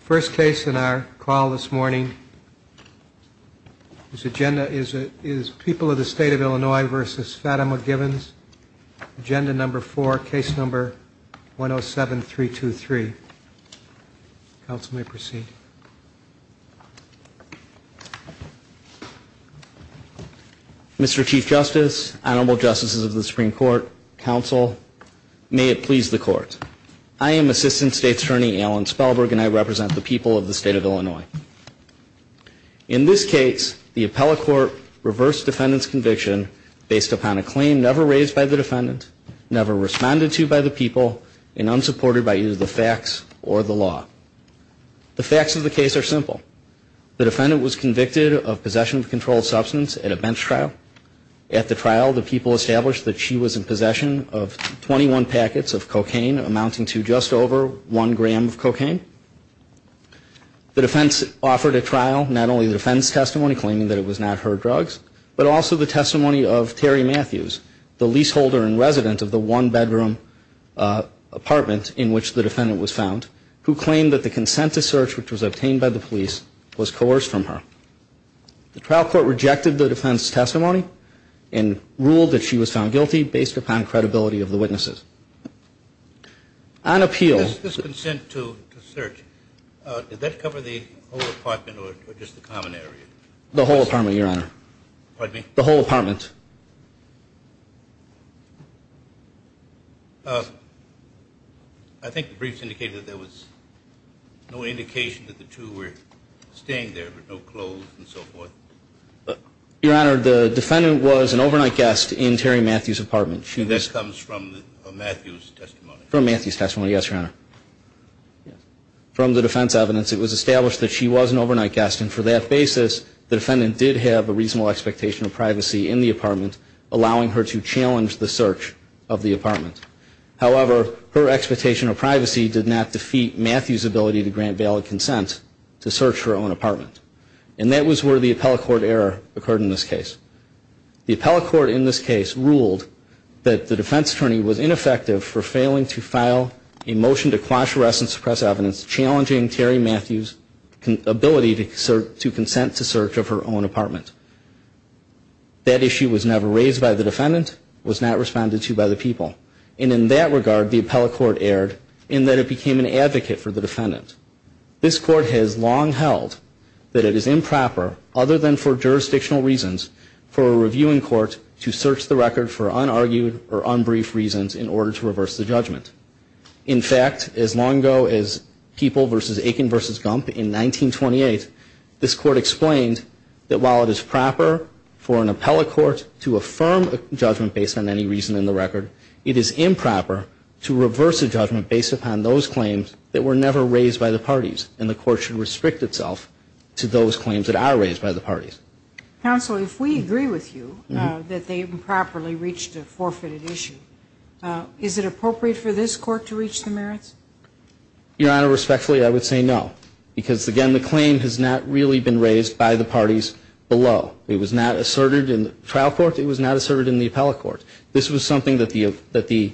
First case in our call this morning. This agenda is People of the State of Illinois v. Fatima Givens. Agenda number four, case number 107-323. Counsel may proceed. Mr. Chief Justice, Honorable Justices of the Supreme Court, counsel, may it please the court. I am Assistant State Attorney Alan Spellberg and I represent the people of the State of Illinois. In this case, the appellate court reversed defendant's conviction based upon a claim never raised by the defendant, never responded to by the people, and unsupported by either the facts or the law. The facts of the case are simple. The defendant was convicted of possession of a controlled substance at a bench trial. At the trial, the people established that she was in possession of 21 packets of cocaine, amounting to just over one gram of cocaine. The defense offered a trial, not only the defense testimony claiming that it was not her drugs, but also the testimony of Terry Matthews, the leaseholder and resident of the one-bedroom apartment in which the defendant was found, who claimed that the consent to search, which was obtained by the police, was coerced from her. The trial court rejected the defense testimony and ruled that she was found guilty based upon credibility of the witnesses. On appeal. This consent to search, did that cover the whole apartment or just the common area? The whole apartment, Your Honor. Pardon me? The whole apartment. I think the briefs indicated that there was no indication that the two were staying there with no clothes and so forth. Your Honor, the defendant was an overnight guest in Terry Matthews' apartment. And that comes from Matthews' testimony? From Matthews' testimony, yes, Your Honor. From the defense evidence, it was established that she was an overnight guest, and for that basis, the defendant did have a reasonable expectation of privacy in the apartment, allowing her to challenge the search of the apartment. However, her expectation of privacy did not defeat Matthews' ability to grant valid consent to search her own apartment. And that was where the appellate court error occurred in this case. The appellate court in this case ruled that the defense attorney was ineffective for failing to file a motion to quash, arrest, and suppress evidence challenging Terry Matthews' ability to consent to search of her own apartment. That issue was never raised by the defendant, was not responded to by the people. And in that regard, the appellate court erred in that it became an advocate for the defendant. This court has long held that it is improper, other than for jurisdictional reasons, for a reviewing court to search the record for unargued or unbrief reasons in order to reverse the judgment. In fact, as long ago as People v. Aiken v. Gump in 1928, this court explained that while it is proper for an appellate court to affirm a judgment based on any reason in the record, it is improper to reverse a judgment based upon those claims that were never raised by the defendant. And the court should restrict itself to those claims that are raised by the parties. Counsel, if we agree with you that they improperly reached a forfeited issue, is it appropriate for this court to reach the merits? Your Honor, respectfully, I would say no because, again, the claim has not really been raised by the parties below. It was not asserted in the trial court. It was not asserted in the appellate court. This was something that the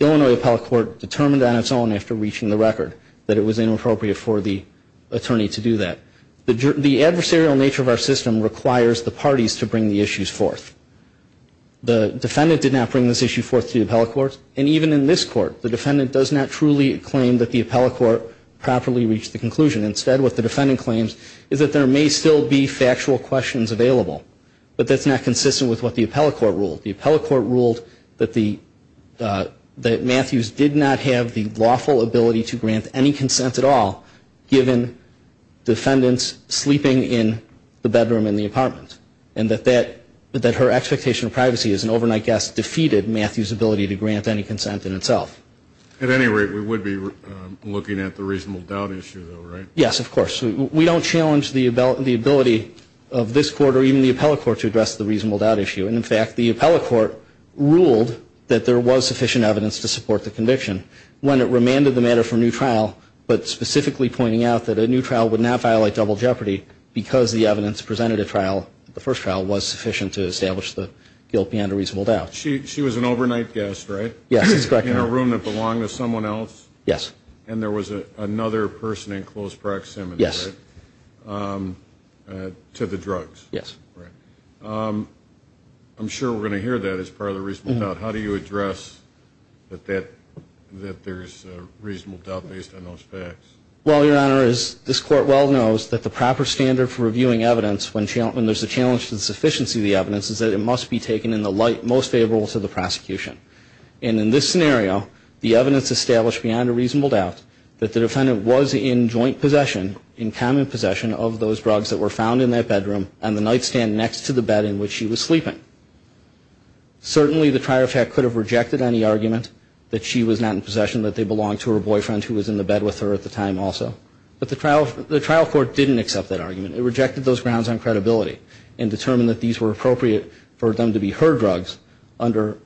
Illinois appellate court determined on its own after reaching the record, that it was inappropriate for the attorney to do that. The adversarial nature of our system requires the parties to bring the issues forth. The defendant did not bring this issue forth to the appellate court, and even in this court, the defendant does not truly claim that the appellate court properly reached the conclusion. What the defendant claims is that there may still be factual questions available, but that's not consistent with what the appellate court ruled. The appellate court ruled that Matthews did not have the lawful ability to grant any consent at all, given defendants sleeping in the bedroom in the apartment, and that her expectation of privacy as an overnight guest defeated Matthews' ability to grant any consent in itself. At any rate, we would be looking at the reasonable doubt issue, right? Yes, of course. We don't challenge the ability of this court or even the appellate court to address the reasonable doubt issue. In fact, the appellate court ruled that there was sufficient evidence to support the conviction when it remanded the matter for a new trial, but specifically pointing out that a new trial would not violate double jeopardy because the evidence presented at the first trial was sufficient to establish the guilt beyond a reasonable doubt. She was an overnight guest, right? Yes, that's correct, Your Honor. In a room that belonged to someone else? Yes. And there was another person in close proximity, right? Yes. To the drugs? Yes. Right. I'm sure we're going to hear that as part of the reasonable doubt. How do you address that there's a reasonable doubt based on those facts? Well, Your Honor, as this Court well knows, that the proper standard for reviewing evidence when there's a challenge to the sufficiency of the evidence is that it must be taken in the light most favorable to the prosecution. And in this scenario, the evidence established beyond a reasonable doubt that the defendant was in joint possession, in common possession, of those drugs that were found in that bedroom on the nightstand next to the bed in which she was sleeping. Certainly, the trial fact could have rejected any argument that she was not in possession, that they belonged to her boyfriend who was in the bed with her at the time also. But the trial court didn't accept that argument. It rejected those grounds on credibility and determined that these were appropriate for them to be her drugs under,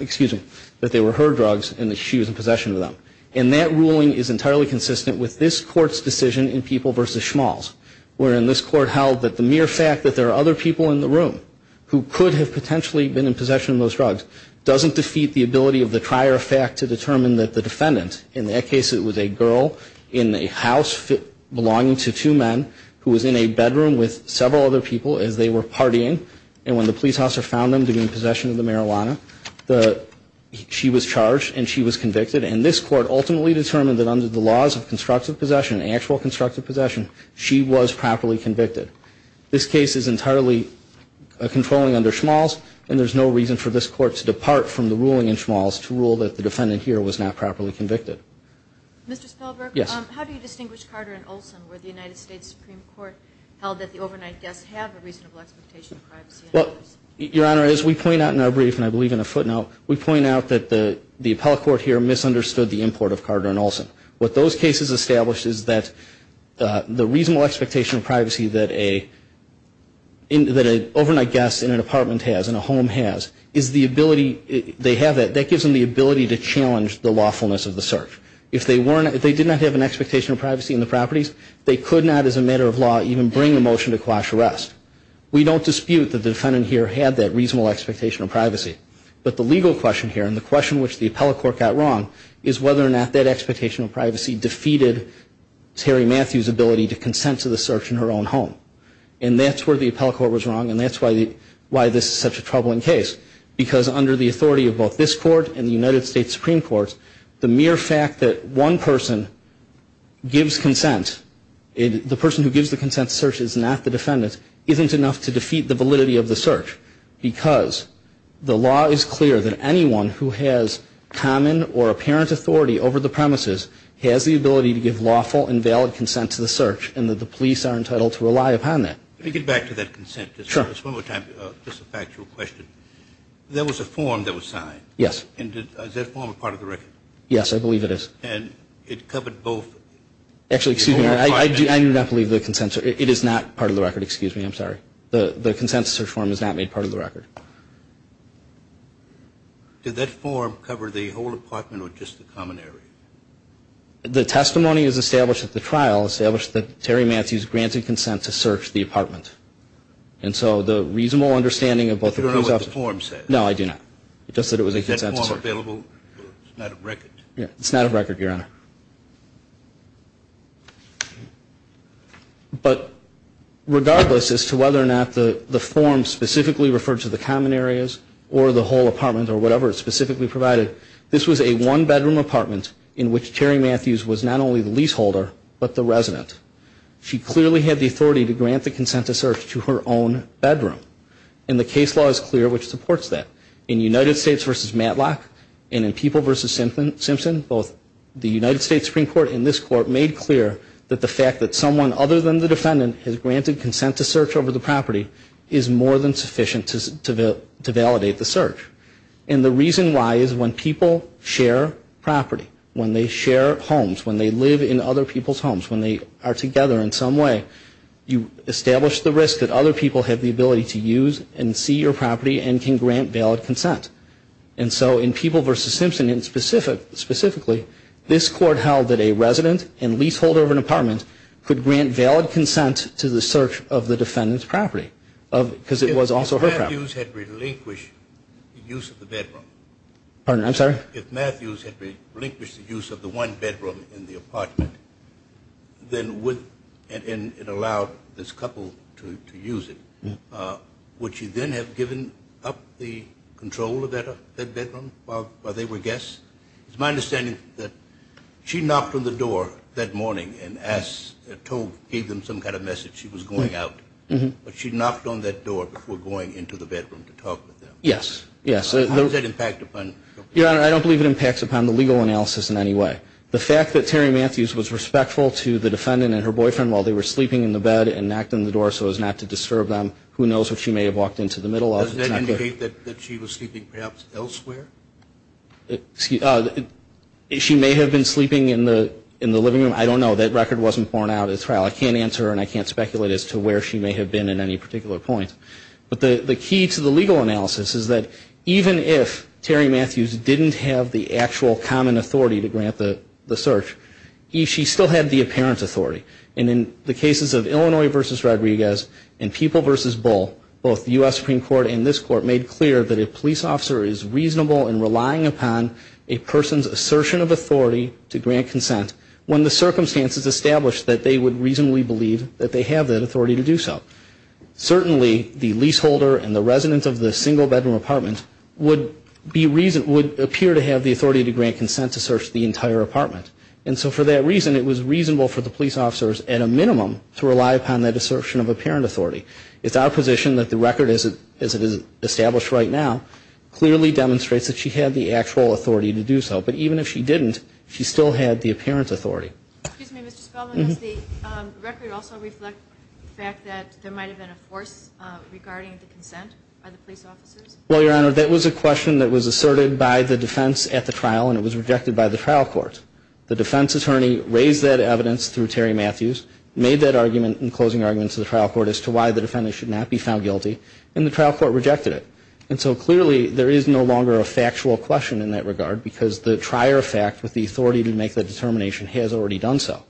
excuse me, that they were her drugs and that she was in possession of them. And that ruling is entirely consistent with this Court's decision in People v. Schmalz, wherein this Court held that the mere fact that there are other people in the room who could have potentially been in possession of those drugs doesn't defeat the ability of the trial fact to determine that the defendant, in that case it was a girl in a house belonging to two men who was in a bedroom with several other people as they were partying. And when the police officer found them to be in possession of the marijuana, she was charged and she was convicted. And this Court ultimately determined that under the laws of constructive possession, actual constructive possession, she was properly convicted. This case is entirely controlling under Schmalz, and there's no reason for this Court to depart from the ruling in Schmalz to rule that the defendant here was not properly convicted. Mr. Spelberg? Yes. How do you distinguish Carter and Olson, where the United States Supreme Court held that the overnight guests have a reasonable expectation of privacy? Well, Your Honor, as we point out in our brief, and I believe in a footnote, we point out that the appellate court here misunderstood the import of Carter and Olson. What those cases establish is that the reasonable expectation of privacy that an overnight guest in an apartment has, in a home has, is the ability, they have it, that gives them the ability to challenge the lawfulness of the search. If they did not have an expectation of privacy in the properties, they could not, as a matter of law, even bring a motion to quash arrest. We don't dispute that the defendant here had that reasonable expectation of privacy. But the legal question here, and the question which the appellate court got wrong, is whether or not that expectation of privacy defeated Terry Matthews' ability to consent to the search in her own home. And that's where the appellate court was wrong, and that's why this is such a troubling case. Because under the authority of both this court and the United States Supreme Court, the mere fact that one person gives consent, the person who gives the consent to search is not the defendant, isn't enough to defeat the validity of the search. Because the law is clear that anyone who has common or apparent authority over the premises has the ability to give lawful and valid consent to the search, and that the police are entitled to rely upon that. Let me get back to that consent. Sure. Just one more time, just a factual question. There was a form that was signed. Yes. And is that form a part of the record? Yes, I believe it is. And it covered both? Actually, excuse me, I do not believe the consent, it is not part of the record. Excuse me, I'm sorry. The consent search form is not made part of the record. Did that form cover the whole apartment or just the common area? The testimony is established at the trial, established that Terry Matthews granted consent to search the apartment. And so the reasonable understanding of both of those options. I don't know what the form says. No, I do not. It just said it was a consent to search. Is that form available? It's not a record. It's not a record, Your Honor. But regardless as to whether or not the form specifically referred to the common areas or the whole apartment or whatever it specifically provided, this was a one-bedroom apartment in which Terry Matthews was not only the leaseholder but the resident. She clearly had the authority to grant the consent to search to her own bedroom. And the case law is clear which supports that. In United States v. Matlock and in People v. Simpson, both the United States Supreme Court and this Court made clear that the fact that someone other than the defendant has granted consent to search over the property is more than sufficient to validate the search. And the reason why is when people share property, when they share homes, when they live in other people's homes, when they are together in some way, you establish the risk that other people have the ability to use and see your property and can grant valid consent. And so in People v. Simpson specifically, this Court held that a resident and leaseholder of an apartment could grant valid consent to the search of the defendant's property because it was also her property. If Matthews had relinquished the use of the bedroom. Pardon? I'm sorry? If Matthews had relinquished the use of the one bedroom in the apartment, and it allowed this couple to use it, would she then have given up the control of that bedroom while they were guests? It's my understanding that she knocked on the door that morning and gave them some kind of message she was going out. But she knocked on that door before going into the bedroom to talk with them? Yes. How does that impact upon? Your Honor, I don't believe it impacts upon the legal analysis in any way. The fact that Terry Matthews was respectful to the defendant and her boyfriend while they were sleeping in the bed and knocked on the door so as not to disturb them, who knows what she may have walked into the middle of. Does that indicate that she was sleeping perhaps elsewhere? She may have been sleeping in the living room. I don't know. That record wasn't borne out at trial. I can't answer and I can't speculate as to where she may have been in any particular point. But the key to the legal analysis is that even if Terry Matthews didn't have the actual common authority to grant the search, she still had the apparent authority. And in the cases of Illinois v. Rodriguez and People v. Bull, both the U.S. Supreme Court and this Court made clear that a police officer is reasonable in relying upon a person's assertion of authority to grant consent when the circumstances established that they would reasonably believe that they have that authority to do so. Certainly, the leaseholder and the resident of the single-bedroom apartment would appear to have the authority to grant consent to search the entire apartment. And so for that reason, it was reasonable for the police officers at a minimum to rely upon that assertion of apparent authority. It's our position that the record as it is established right now clearly demonstrates that she had the actual authority to do so. But even if she didn't, she still had the apparent authority. Excuse me, Mr. Spellman. Does the record also reflect the fact that there might have been a force regarding the consent by the police officers? Well, Your Honor, that was a question that was asserted by the defense at the trial, and it was rejected by the trial court. The defense attorney raised that evidence through Terry Matthews, made that argument and closing argument to the trial court as to why the defendant should not be found guilty, and the trial court rejected it. And so clearly there is no longer a factual question in that regard because the trier fact with the authority to make that determination has already done so.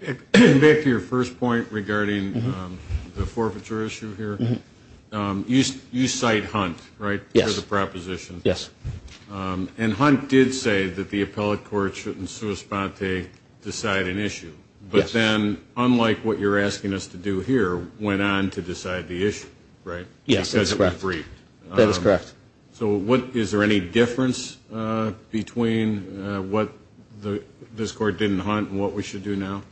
Back to your first point regarding the forfeiture issue here. You cite Hunt, right, for the proposition. Yes. And Hunt did say that the appellate court should in sua sponte decide an issue. Yes. But then, unlike what you're asking us to do here, went on to decide the issue, right? Yes, that's correct. Because it was briefed. That is correct. So is there any difference between what this court didn't Hunt and what we should do now?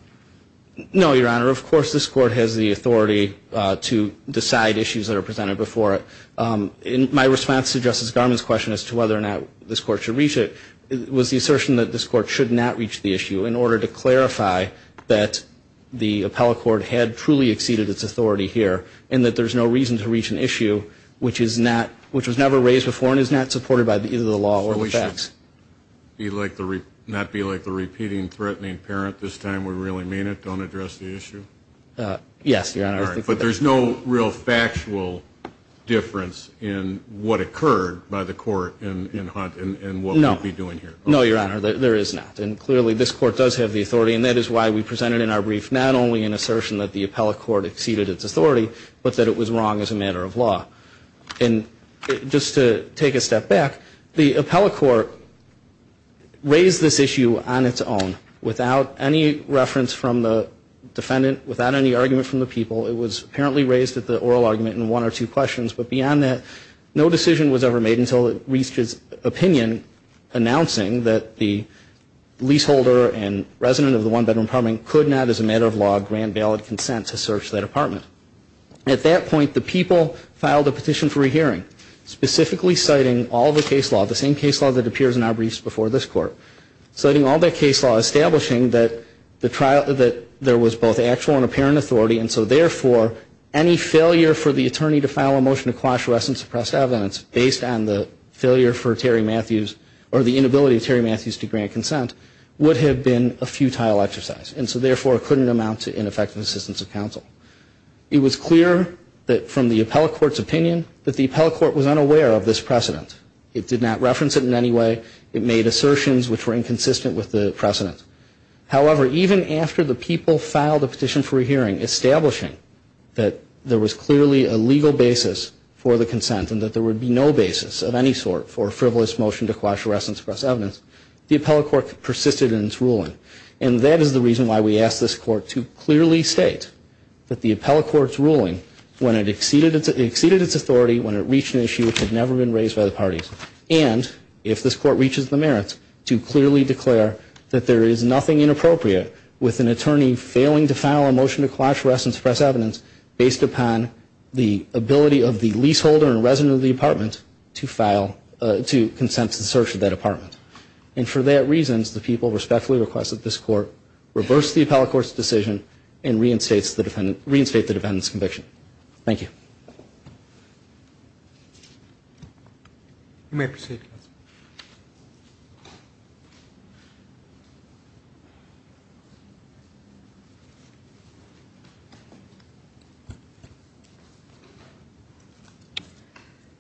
No, Your Honor. Of course this court has the authority to decide issues that are presented before it. My response to Justice Garmon's question as to whether or not this court should reach it was the assertion that this court should not reach the issue in order to clarify that the appellate court had truly exceeded its authority here and that there's no reason to reach an issue which was never raised before and is not supported by either the law or the facts. So we should not be like the repeating threatening parent this time? We really mean it? Don't address the issue? Yes, Your Honor. All right. But there's no real factual difference in what occurred by the court in Hunt and what we'd be doing here? No, Your Honor. There is not. And clearly this court does have the authority, and that is why we presented in our brief not only an assertion that the appellate court had truly exceeded its authority, but that it was wrong as a matter of law. And just to take a step back, the appellate court raised this issue on its own without any reference from the defendant, without any argument from the people. It was apparently raised at the oral argument in one or two questions. But beyond that, no decision was ever made until it reached its opinion, announcing that the leaseholder and resident of the one-bedroom apartment could not, as a matter of law, grant valid consent to search that apartment. At that point, the people filed a petition for a hearing, specifically citing all the case law, the same case law that appears in our briefs before this court, citing all the case law establishing that there was both actual and apparent authority, and so therefore any failure for the attorney to file a motion to quash, arrest, and suppress evidence based on the failure for Terry Matthews or the inability of Terry Matthews to grant consent would have been a futile exercise. And so therefore it couldn't amount to ineffective assistance of counsel. It was clear from the appellate court's opinion that the appellate court was unaware of this precedent. It did not reference it in any way. It made assertions which were inconsistent with the precedent. However, even after the people filed a petition for a hearing establishing that there was clearly a legal basis for the consent and that there would be no basis of any sort for a frivolous motion to quash, arrest, and suppress evidence, the appellate court persisted in its ruling. And that is the reason why we ask this court to clearly state that the appellate court's ruling, when it exceeded its authority, when it reached an issue which had never been raised by the parties, and if this court reaches the merits, to clearly declare that there is nothing inappropriate with an attorney failing to file a motion to quash, arrest, and suppress evidence based upon the ability of the leaseholder and resident of the apartment to consent to the search of that apartment. And for that reason, the people respectfully request that this court reverse the appellate court's decision and reinstate the defendant's conviction. Thank you.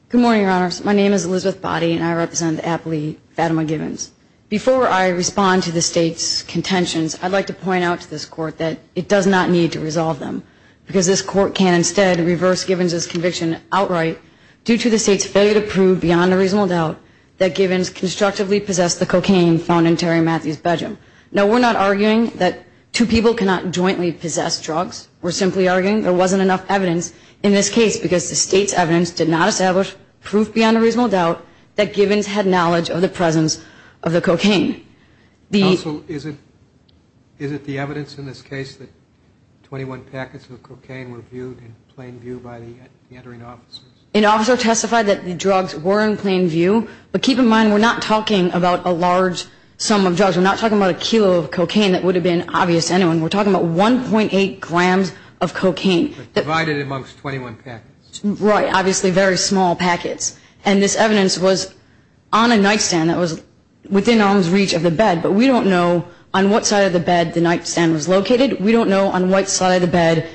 Good morning, Your Honors. My name is Elizabeth Boddy, and I represent the appellee, Fatima Givens. Before I respond to the State's contentions, I'd like to point out to this court that it does not need to resolve them because this court can instead reverse Givens' conviction outright due to the State's failure to prove beyond a reasonable doubt that Givens constructively possessed the cocaine found in Terry Matthews' bedroom. Now, we're not arguing that two people cannot jointly possess drugs. We're simply arguing there wasn't enough evidence in this case because the State's evidence did not establish proof beyond a reasonable doubt that Givens had knowledge of the presence of the cocaine. Counsel, is it the evidence in this case that 21 packets of cocaine were viewed in plain view by the entering officers? An officer testified that the drugs were in plain view, but keep in mind we're not talking about a large sum of drugs. We're not talking about a kilo of cocaine that would have been obvious to anyone. We're talking about 1.8 grams of cocaine. But divided amongst 21 packets. Right, obviously very small packets. And this evidence was on a nightstand that was within arm's reach of the bed, but we don't know on what side of the bed the nightstand was located. We don't know on what side of the bed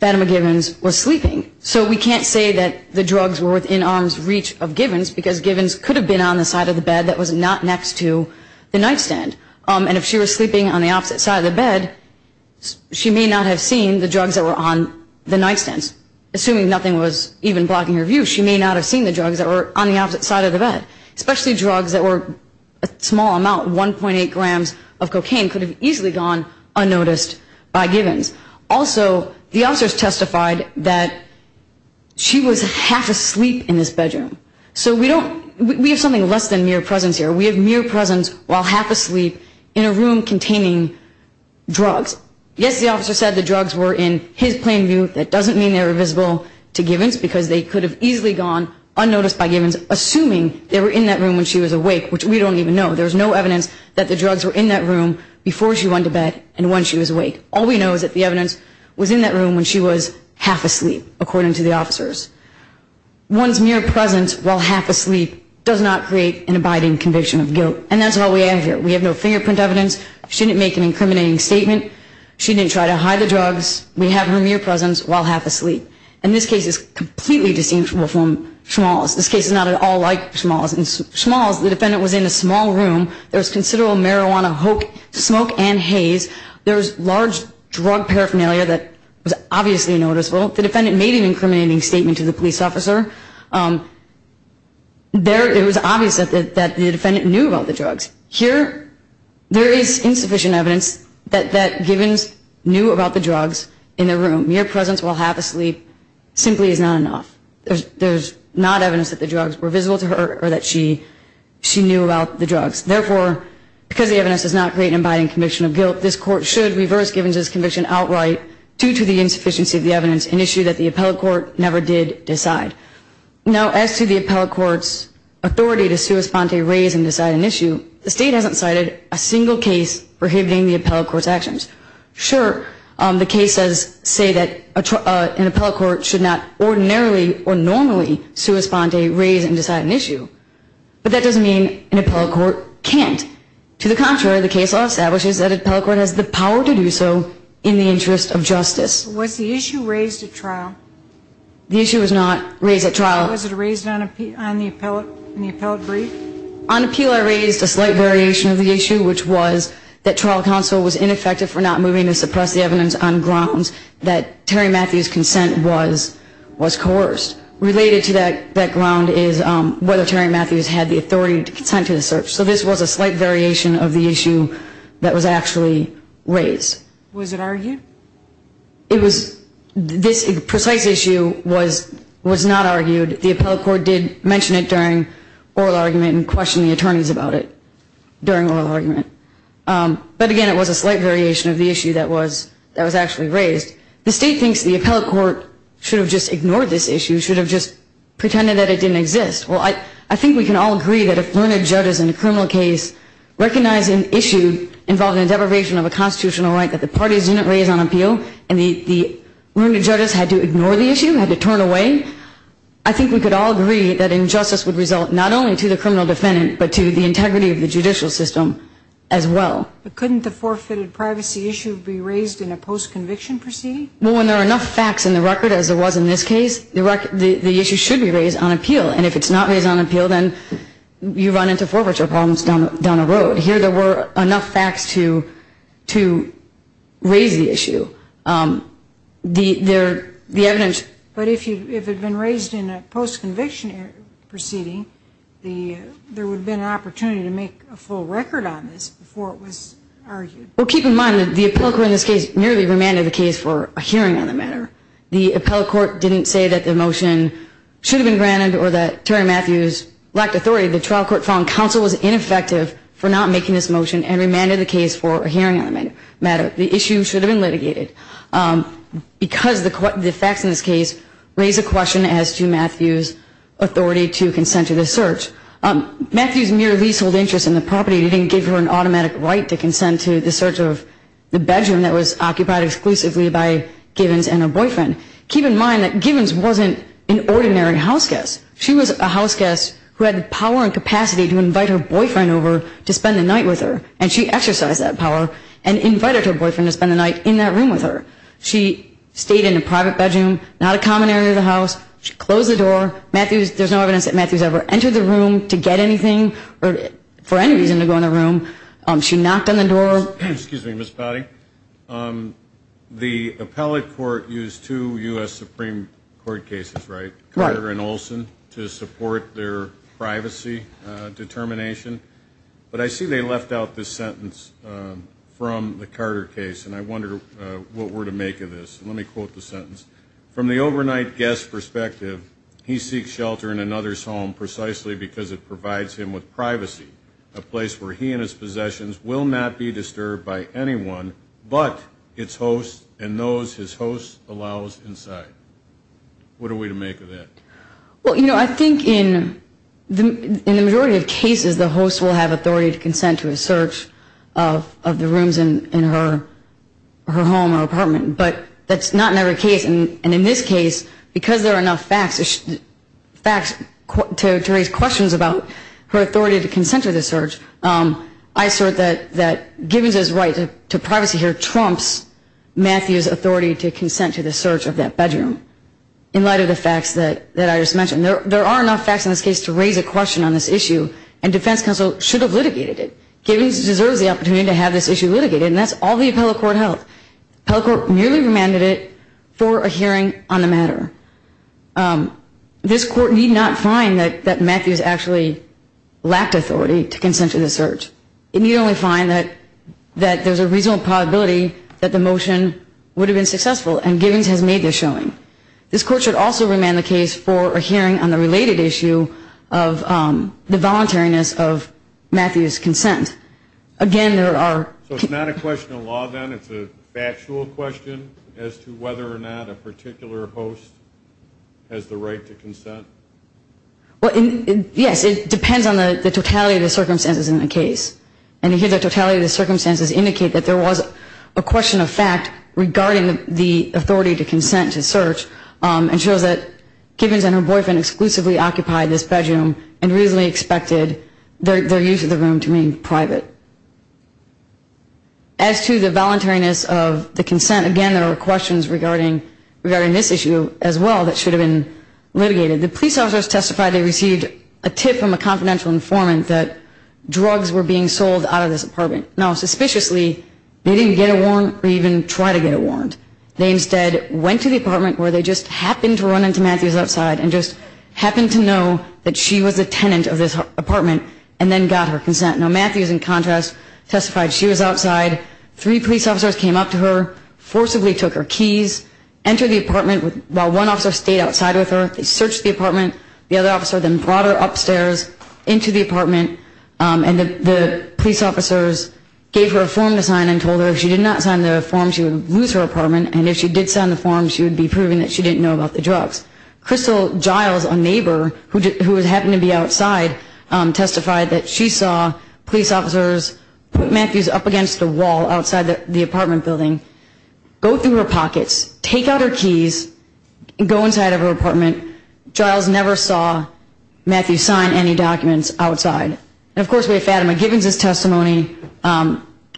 Fatima Givens was sleeping. So we can't say that the drugs were within arm's reach of Givens because Givens could have been on the side of the bed that was not next to the nightstand. And if she was sleeping on the opposite side of the bed, she may not have seen the drugs that were on the nightstand, assuming nothing was even blocking her view, she may not have seen the drugs that were on the opposite side of the bed. Especially drugs that were a small amount, 1.8 grams of cocaine, could have easily gone unnoticed by Givens. Also, the officers testified that she was half asleep in this bedroom. So we don't, we have something less than mere presence here. We have mere presence while half asleep in a room containing drugs. Yes, the officer said the drugs were in his plain view. That doesn't mean they were visible to Givens because they could have easily gone unnoticed by Givens, assuming they were in that room when she was awake, which we don't even know. There's no evidence that the drugs were in that room before she went to bed and when she was awake. All we know is that the evidence was in that room when she was half asleep, according to the officers. One's mere presence while half asleep does not create an abiding conviction of guilt. And that's all we have here. We have no fingerprint evidence. She didn't make an incriminating statement. She didn't try to hide the drugs. We have her mere presence while half asleep. And this case is completely distinct from Schmalz. This case is not at all like Schmalz. In Schmalz, the defendant was in a small room. There was considerable marijuana, smoke, and haze. There was large drug paraphernalia that was obviously noticeable. The defendant made an incriminating statement to the police officer. It was obvious that the defendant knew about the drugs. Here, there is insufficient evidence that Gibbons knew about the drugs in the room. Mere presence while half asleep simply is not enough. There's not evidence that the drugs were visible to her or that she knew about the drugs. Therefore, because the evidence does not create an abiding conviction of guilt, this Court should reverse Gibbons' conviction outright due to the insufficiency of the evidence, an issue that the appellate court never did decide. Now, as to the appellate court's authority to sua sponte, raise, and decide an issue, the State hasn't cited a single case prohibiting the appellate court's actions. Sure, the cases say that an appellate court should not ordinarily or normally sua sponte, raise, and decide an issue. But that doesn't mean an appellate court can't. To the contrary, the case law establishes that an appellate court has the power to do so in the interest of justice. Was the issue raised at trial? The issue was not raised at trial. Was it raised on the appellate brief? On appeal, I raised a slight variation of the issue, which was that trial counsel was ineffective for not moving to suppress the evidence on grounds that Terry Matthews' consent was coerced. Related to that ground is whether Terry Matthews had the authority to consent to the search. So this was a slight variation of the issue that was actually raised. Was it argued? It was this precise issue was not argued. The appellate court did mention it during oral argument and questioned the attorneys about it during oral argument. But, again, it was a slight variation of the issue that was actually raised. The State thinks the appellate court should have just ignored this issue, should have just pretended that it didn't exist. Well, I think we can all agree that if learned judges in a criminal case recognize an issue involving a deprivation of a constitutional right that the parties didn't raise on appeal and the learned judges had to ignore the issue, had to turn away, I think we could all agree that injustice would result not only to the criminal defendant but to the integrity of the judicial system as well. But couldn't the forfeited privacy issue be raised in a post-conviction proceeding? Well, when there are enough facts in the record, as there was in this case, the issue should be raised on appeal. And if it's not raised on appeal, then you run into forfeiture problems down the road. Here there were enough facts to raise the issue. The evidence... But if it had been raised in a post-conviction proceeding, there would have been an opportunity to make a full record on this before it was argued. Well, keep in mind that the appellate court in this case merely remanded the case for a hearing on the matter. The appellate court didn't say that the motion should have been granted or that Terry Matthews lacked authority. The trial court found counsel was ineffective for not making this motion and remanded the case for a hearing on the matter. The issue should have been litigated. Because the facts in this case raise a question as to Matthews' authority to consent to the search. Matthews' mere leasehold interest in the property didn't give her an automatic right to consent to the search of the bedroom that was occupied exclusively by Gibbons and her boyfriend. Keep in mind that Gibbons wasn't an ordinary house guest. She was a house guest who had the power and capacity to invite her boyfriend over to spend the night with her, and she exercised that power and invited her boyfriend to spend the night in that room with her. She stayed in a private bedroom, not a common area of the house. She closed the door. There's no evidence that Matthews ever entered the room to get anything or for any reason to go in the room. She knocked on the door. Excuse me, Ms. Powdy. The appellate court used two U.S. Supreme Court cases, right? Carter and Olson, to support their privacy determination. But I see they left out this sentence from the Carter case, and I wonder what we're to make of this. Let me quote the sentence. From the overnight guest's perspective, he seeks shelter in another's home precisely because it provides him with privacy, a place where he and his possessions will not be disturbed by anyone but its host and those his host allows inside. What are we to make of that? Well, you know, I think in the majority of cases, the host will have authority to consent to a search of the rooms in her home or apartment, but that's not in every case. And in this case, because there are enough facts to raise questions about her authority to consent to the search, I assert that Gibbons's right to privacy here trumps Matthew's authority to consent to the search of that bedroom in light of the facts that I just mentioned. There are enough facts in this case to raise a question on this issue, and defense counsel should have litigated it. Gibbons deserves the opportunity to have this issue litigated, and that's all the appellate court held. The appellate court merely remanded it for a hearing on the matter. This court need not find that Matthew's actually lacked authority to consent to the search. It need only find that there's a reasonable probability that the motion would have been successful, and Gibbons has made this showing. This court should also remand the case for a hearing on the related issue of the voluntariness of Matthew's consent. Again, there are... So it's not a question of law, then? It's a factual question as to whether or not a particular host has the right to consent? Yes, it depends on the totality of the circumstances in the case. And here the totality of the circumstances indicate that there was a question of fact regarding the authority to consent to search, and shows that Gibbons and her boyfriend exclusively occupied this bedroom and reasonably expected their use of the room to remain private. As to the voluntariness of the consent, again, there are questions regarding this issue as well that should have been litigated. The police officers testified they received a tip from a confidential informant that drugs were being sold out of this apartment. Now, suspiciously, they didn't get a warrant or even try to get a warrant. They instead went to the apartment where they just happened to run into Matthew's outside and just happened to know that she was a tenant of this apartment and then got her consent. Now, Matthews, in contrast, testified she was outside. Three police officers came up to her, forcibly took her keys, entered the apartment while one officer stayed outside with her. They searched the apartment. The other officer then brought her upstairs into the apartment, and the police officers gave her a form to sign and told her if she did not sign the form, she would lose her apartment, and if she did sign the form, she would be proving that she didn't know about the drugs. Crystal Giles, a neighbor who happened to be outside, testified that she saw police officers put Matthews up against a wall outside the apartment building, go through her pockets, take out her keys, go inside of her apartment. Giles never saw Matthews sign any documents outside. And, of course, we have Fatima Gibbons' testimony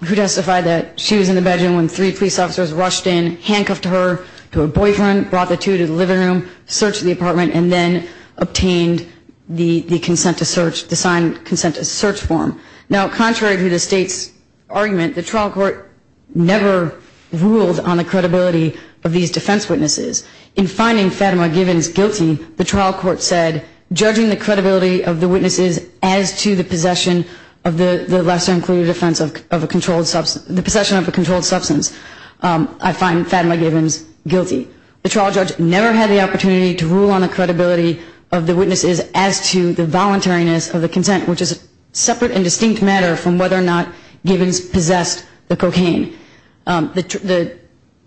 who testified that she was in the bedroom when three police officers rushed in, handcuffed her to a boyfriend, brought the two to the living room, searched the apartment, and then obtained the consent to search, the signed consent to search form. Now, contrary to the State's argument, the trial court never ruled on the credibility of these defense witnesses. In finding Fatima Gibbons guilty, the trial court said, judging the credibility of the witnesses as to the possession of a controlled substance, I find Fatima Gibbons guilty. The trial judge never had the opportunity to rule on the credibility of the witnesses as to the voluntariness of the consent, which is a separate and distinct matter from whether or not Gibbons possessed the cocaine.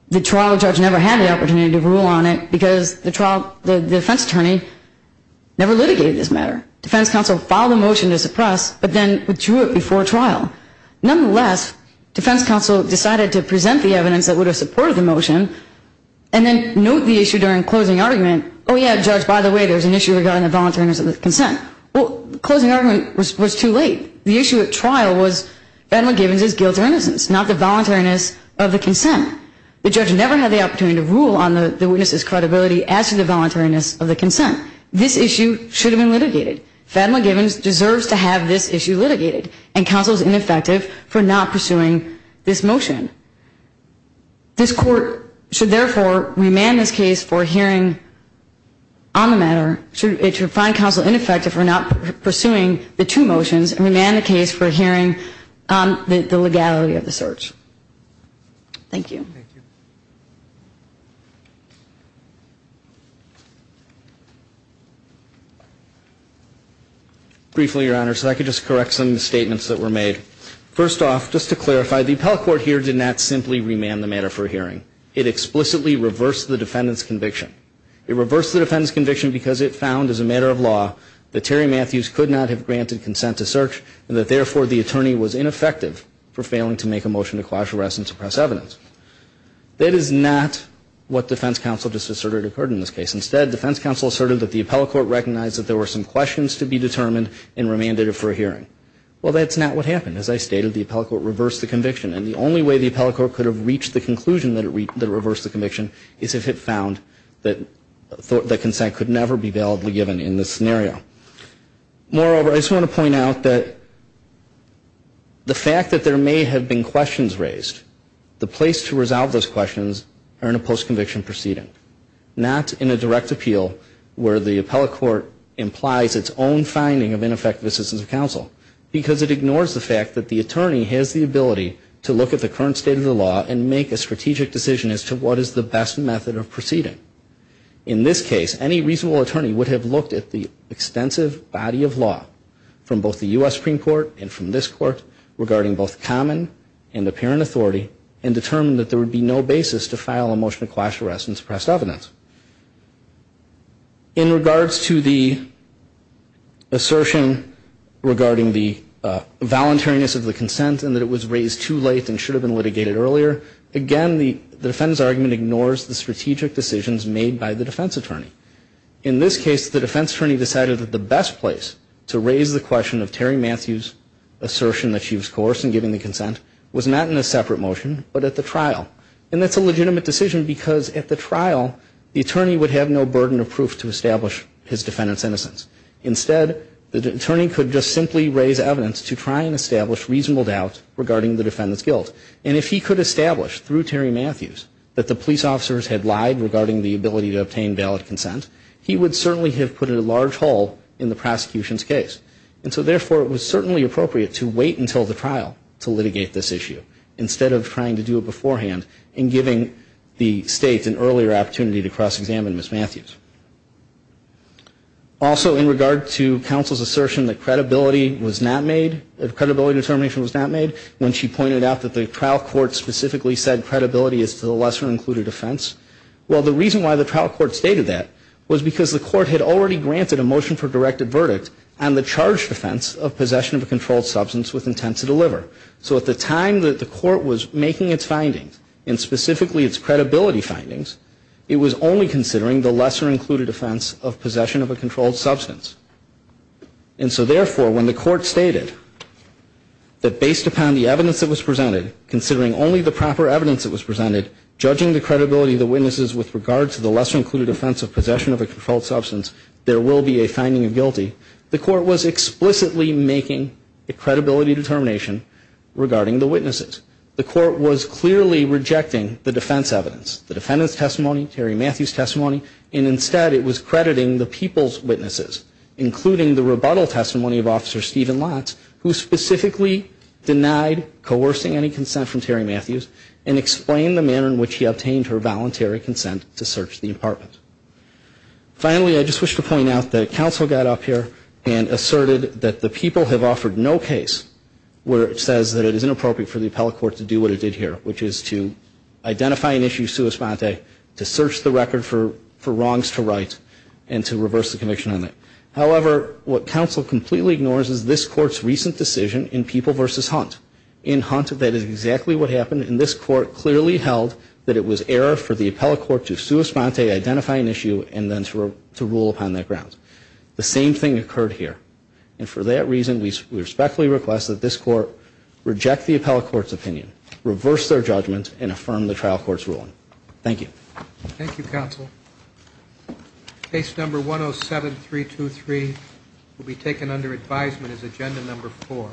The trial judge never had the opportunity to rule on it because the defense attorney never litigated this matter. Defense counsel filed a motion to suppress, but then withdrew it before trial. Nonetheless, defense counsel decided to present the evidence that would have supported the motion and then note the issue during closing argument. Oh, yeah, judge, by the way, there's an issue regarding the voluntariness of the consent. Well, the closing argument was too late. The issue at trial was Fatima Gibbons' guilt or innocence, not the voluntariness of the consent. The judge never had the opportunity to rule on the witnesses' credibility as to the voluntariness of the consent. This issue should have been litigated. Fatima Gibbons deserves to have this issue litigated, and counsel is ineffective for not pursuing this motion. This court should, therefore, remand this case for hearing on the matter. It should find counsel ineffective for not pursuing the two motions and remand the case for hearing on the legality of the search. Thank you. Thank you. Briefly, Your Honor, so I could just correct some of the statements that were made. First off, just to clarify, the appellate court here did not simply remand the matter for hearing. It explicitly reversed the defendant's conviction. It reversed the defendant's conviction because it found, as a matter of law, that Terry Matthews could not have granted consent to search and that, therefore, the attorney was ineffective for failing to make a motion to quash arrest and suppress evidence. That is not what defense counsel just asserted occurred in this case. Instead, defense counsel asserted that the appellate court recognized that there were some questions to be determined and remanded it for a hearing. Well, that's not what happened. As I stated, the appellate court reversed the conviction, and the only way the appellate court could have reached the conclusion that it reversed the conviction is if it found that consent could never be validly given in this scenario. Moreover, I just want to point out that the fact that there may have been questions raised, the place to resolve those questions are in a post-conviction proceeding, not in a direct appeal where the appellate court implies its own finding of ineffective assistance of counsel, because it ignores the fact that the attorney has the ability to look at the current state of the law and make a strategic decision as to what is the best method of proceeding. In this case, any reasonable attorney would have looked at the extensive body of law from both the U.S. Supreme Court and from this Court regarding both common and apparent authority and determined that there would be no basis to file a motion to quash arrest and suppress evidence. In regards to the assertion regarding the voluntariness of the consent and that it was raised too late and should have been litigated earlier, again, the defendant's argument ignores the strategic decisions made by the defense attorney. In this case, the defense attorney decided that the best place to raise the question of Terry Matthews' assertion that she was coerced in giving the consent was not in a separate motion but at the trial. And that's a legitimate decision because at the trial, the attorney would have no burden of proof to establish his defendant's innocence. Instead, the attorney could just simply raise evidence to try and establish reasonable doubt regarding the defendant's guilt. And if he could establish through Terry Matthews that the police officers had lied regarding the ability to obtain valid consent, he would certainly have put a large hole in the prosecution's case. And so, therefore, it was certainly appropriate to wait until the trial to litigate this issue instead of trying to do it beforehand and giving the state an earlier opportunity to cross-examine Ms. Matthews. Also, in regard to counsel's assertion that credibility was not made, that credibility determination was not made, when she pointed out that the trial court specifically said credibility is to the lesser included offense, well, the reason why the trial court stated that was because the court had already granted a motion for directed verdict and the charge defense of possession of a controlled substance with intent to deliver. So at the time that the court was making its findings, and specifically its credibility findings, it was only considering the lesser included offense of possession of a controlled substance. And so, therefore, when the court stated that based upon the evidence that was presented, considering only the proper evidence that was presented, judging the credibility of the witnesses with regard to the lesser included offense of possession of a controlled substance, there will be a finding of guilty, the court was explicitly making a credibility determination regarding the witnesses. The court was clearly rejecting the defense evidence, the defendant's testimony, Terry Matthews' testimony, and instead it was crediting the people's witnesses, including the rebuttal testimony of Officer Stephen Lotz, who specifically denied coercing any consent from Terry Matthews and explained the manner in which he obtained her voluntary consent to search the apartment. Finally, I just wish to point out that counsel got up here and asserted that the people have offered no case where it says that it is inappropriate for the appellate court to do what it did here, which is to identify an issue sua sponte, to search the record for wrongs to right, and to reverse the conviction on that. However, what counsel completely ignores is this court's recent decision in People v. Hunt. In Hunt, that is exactly what happened. And this court clearly held that it was error for the appellate court to sua sponte, identify an issue, and then to rule upon that grounds. The same thing occurred here. And for that reason, we respectfully request that this court reject the appellate court's opinion, reverse their judgment, and affirm the trial court's ruling. Thank you. Thank you, counsel. Case number 107-323 will be taken under advisement as agenda number four.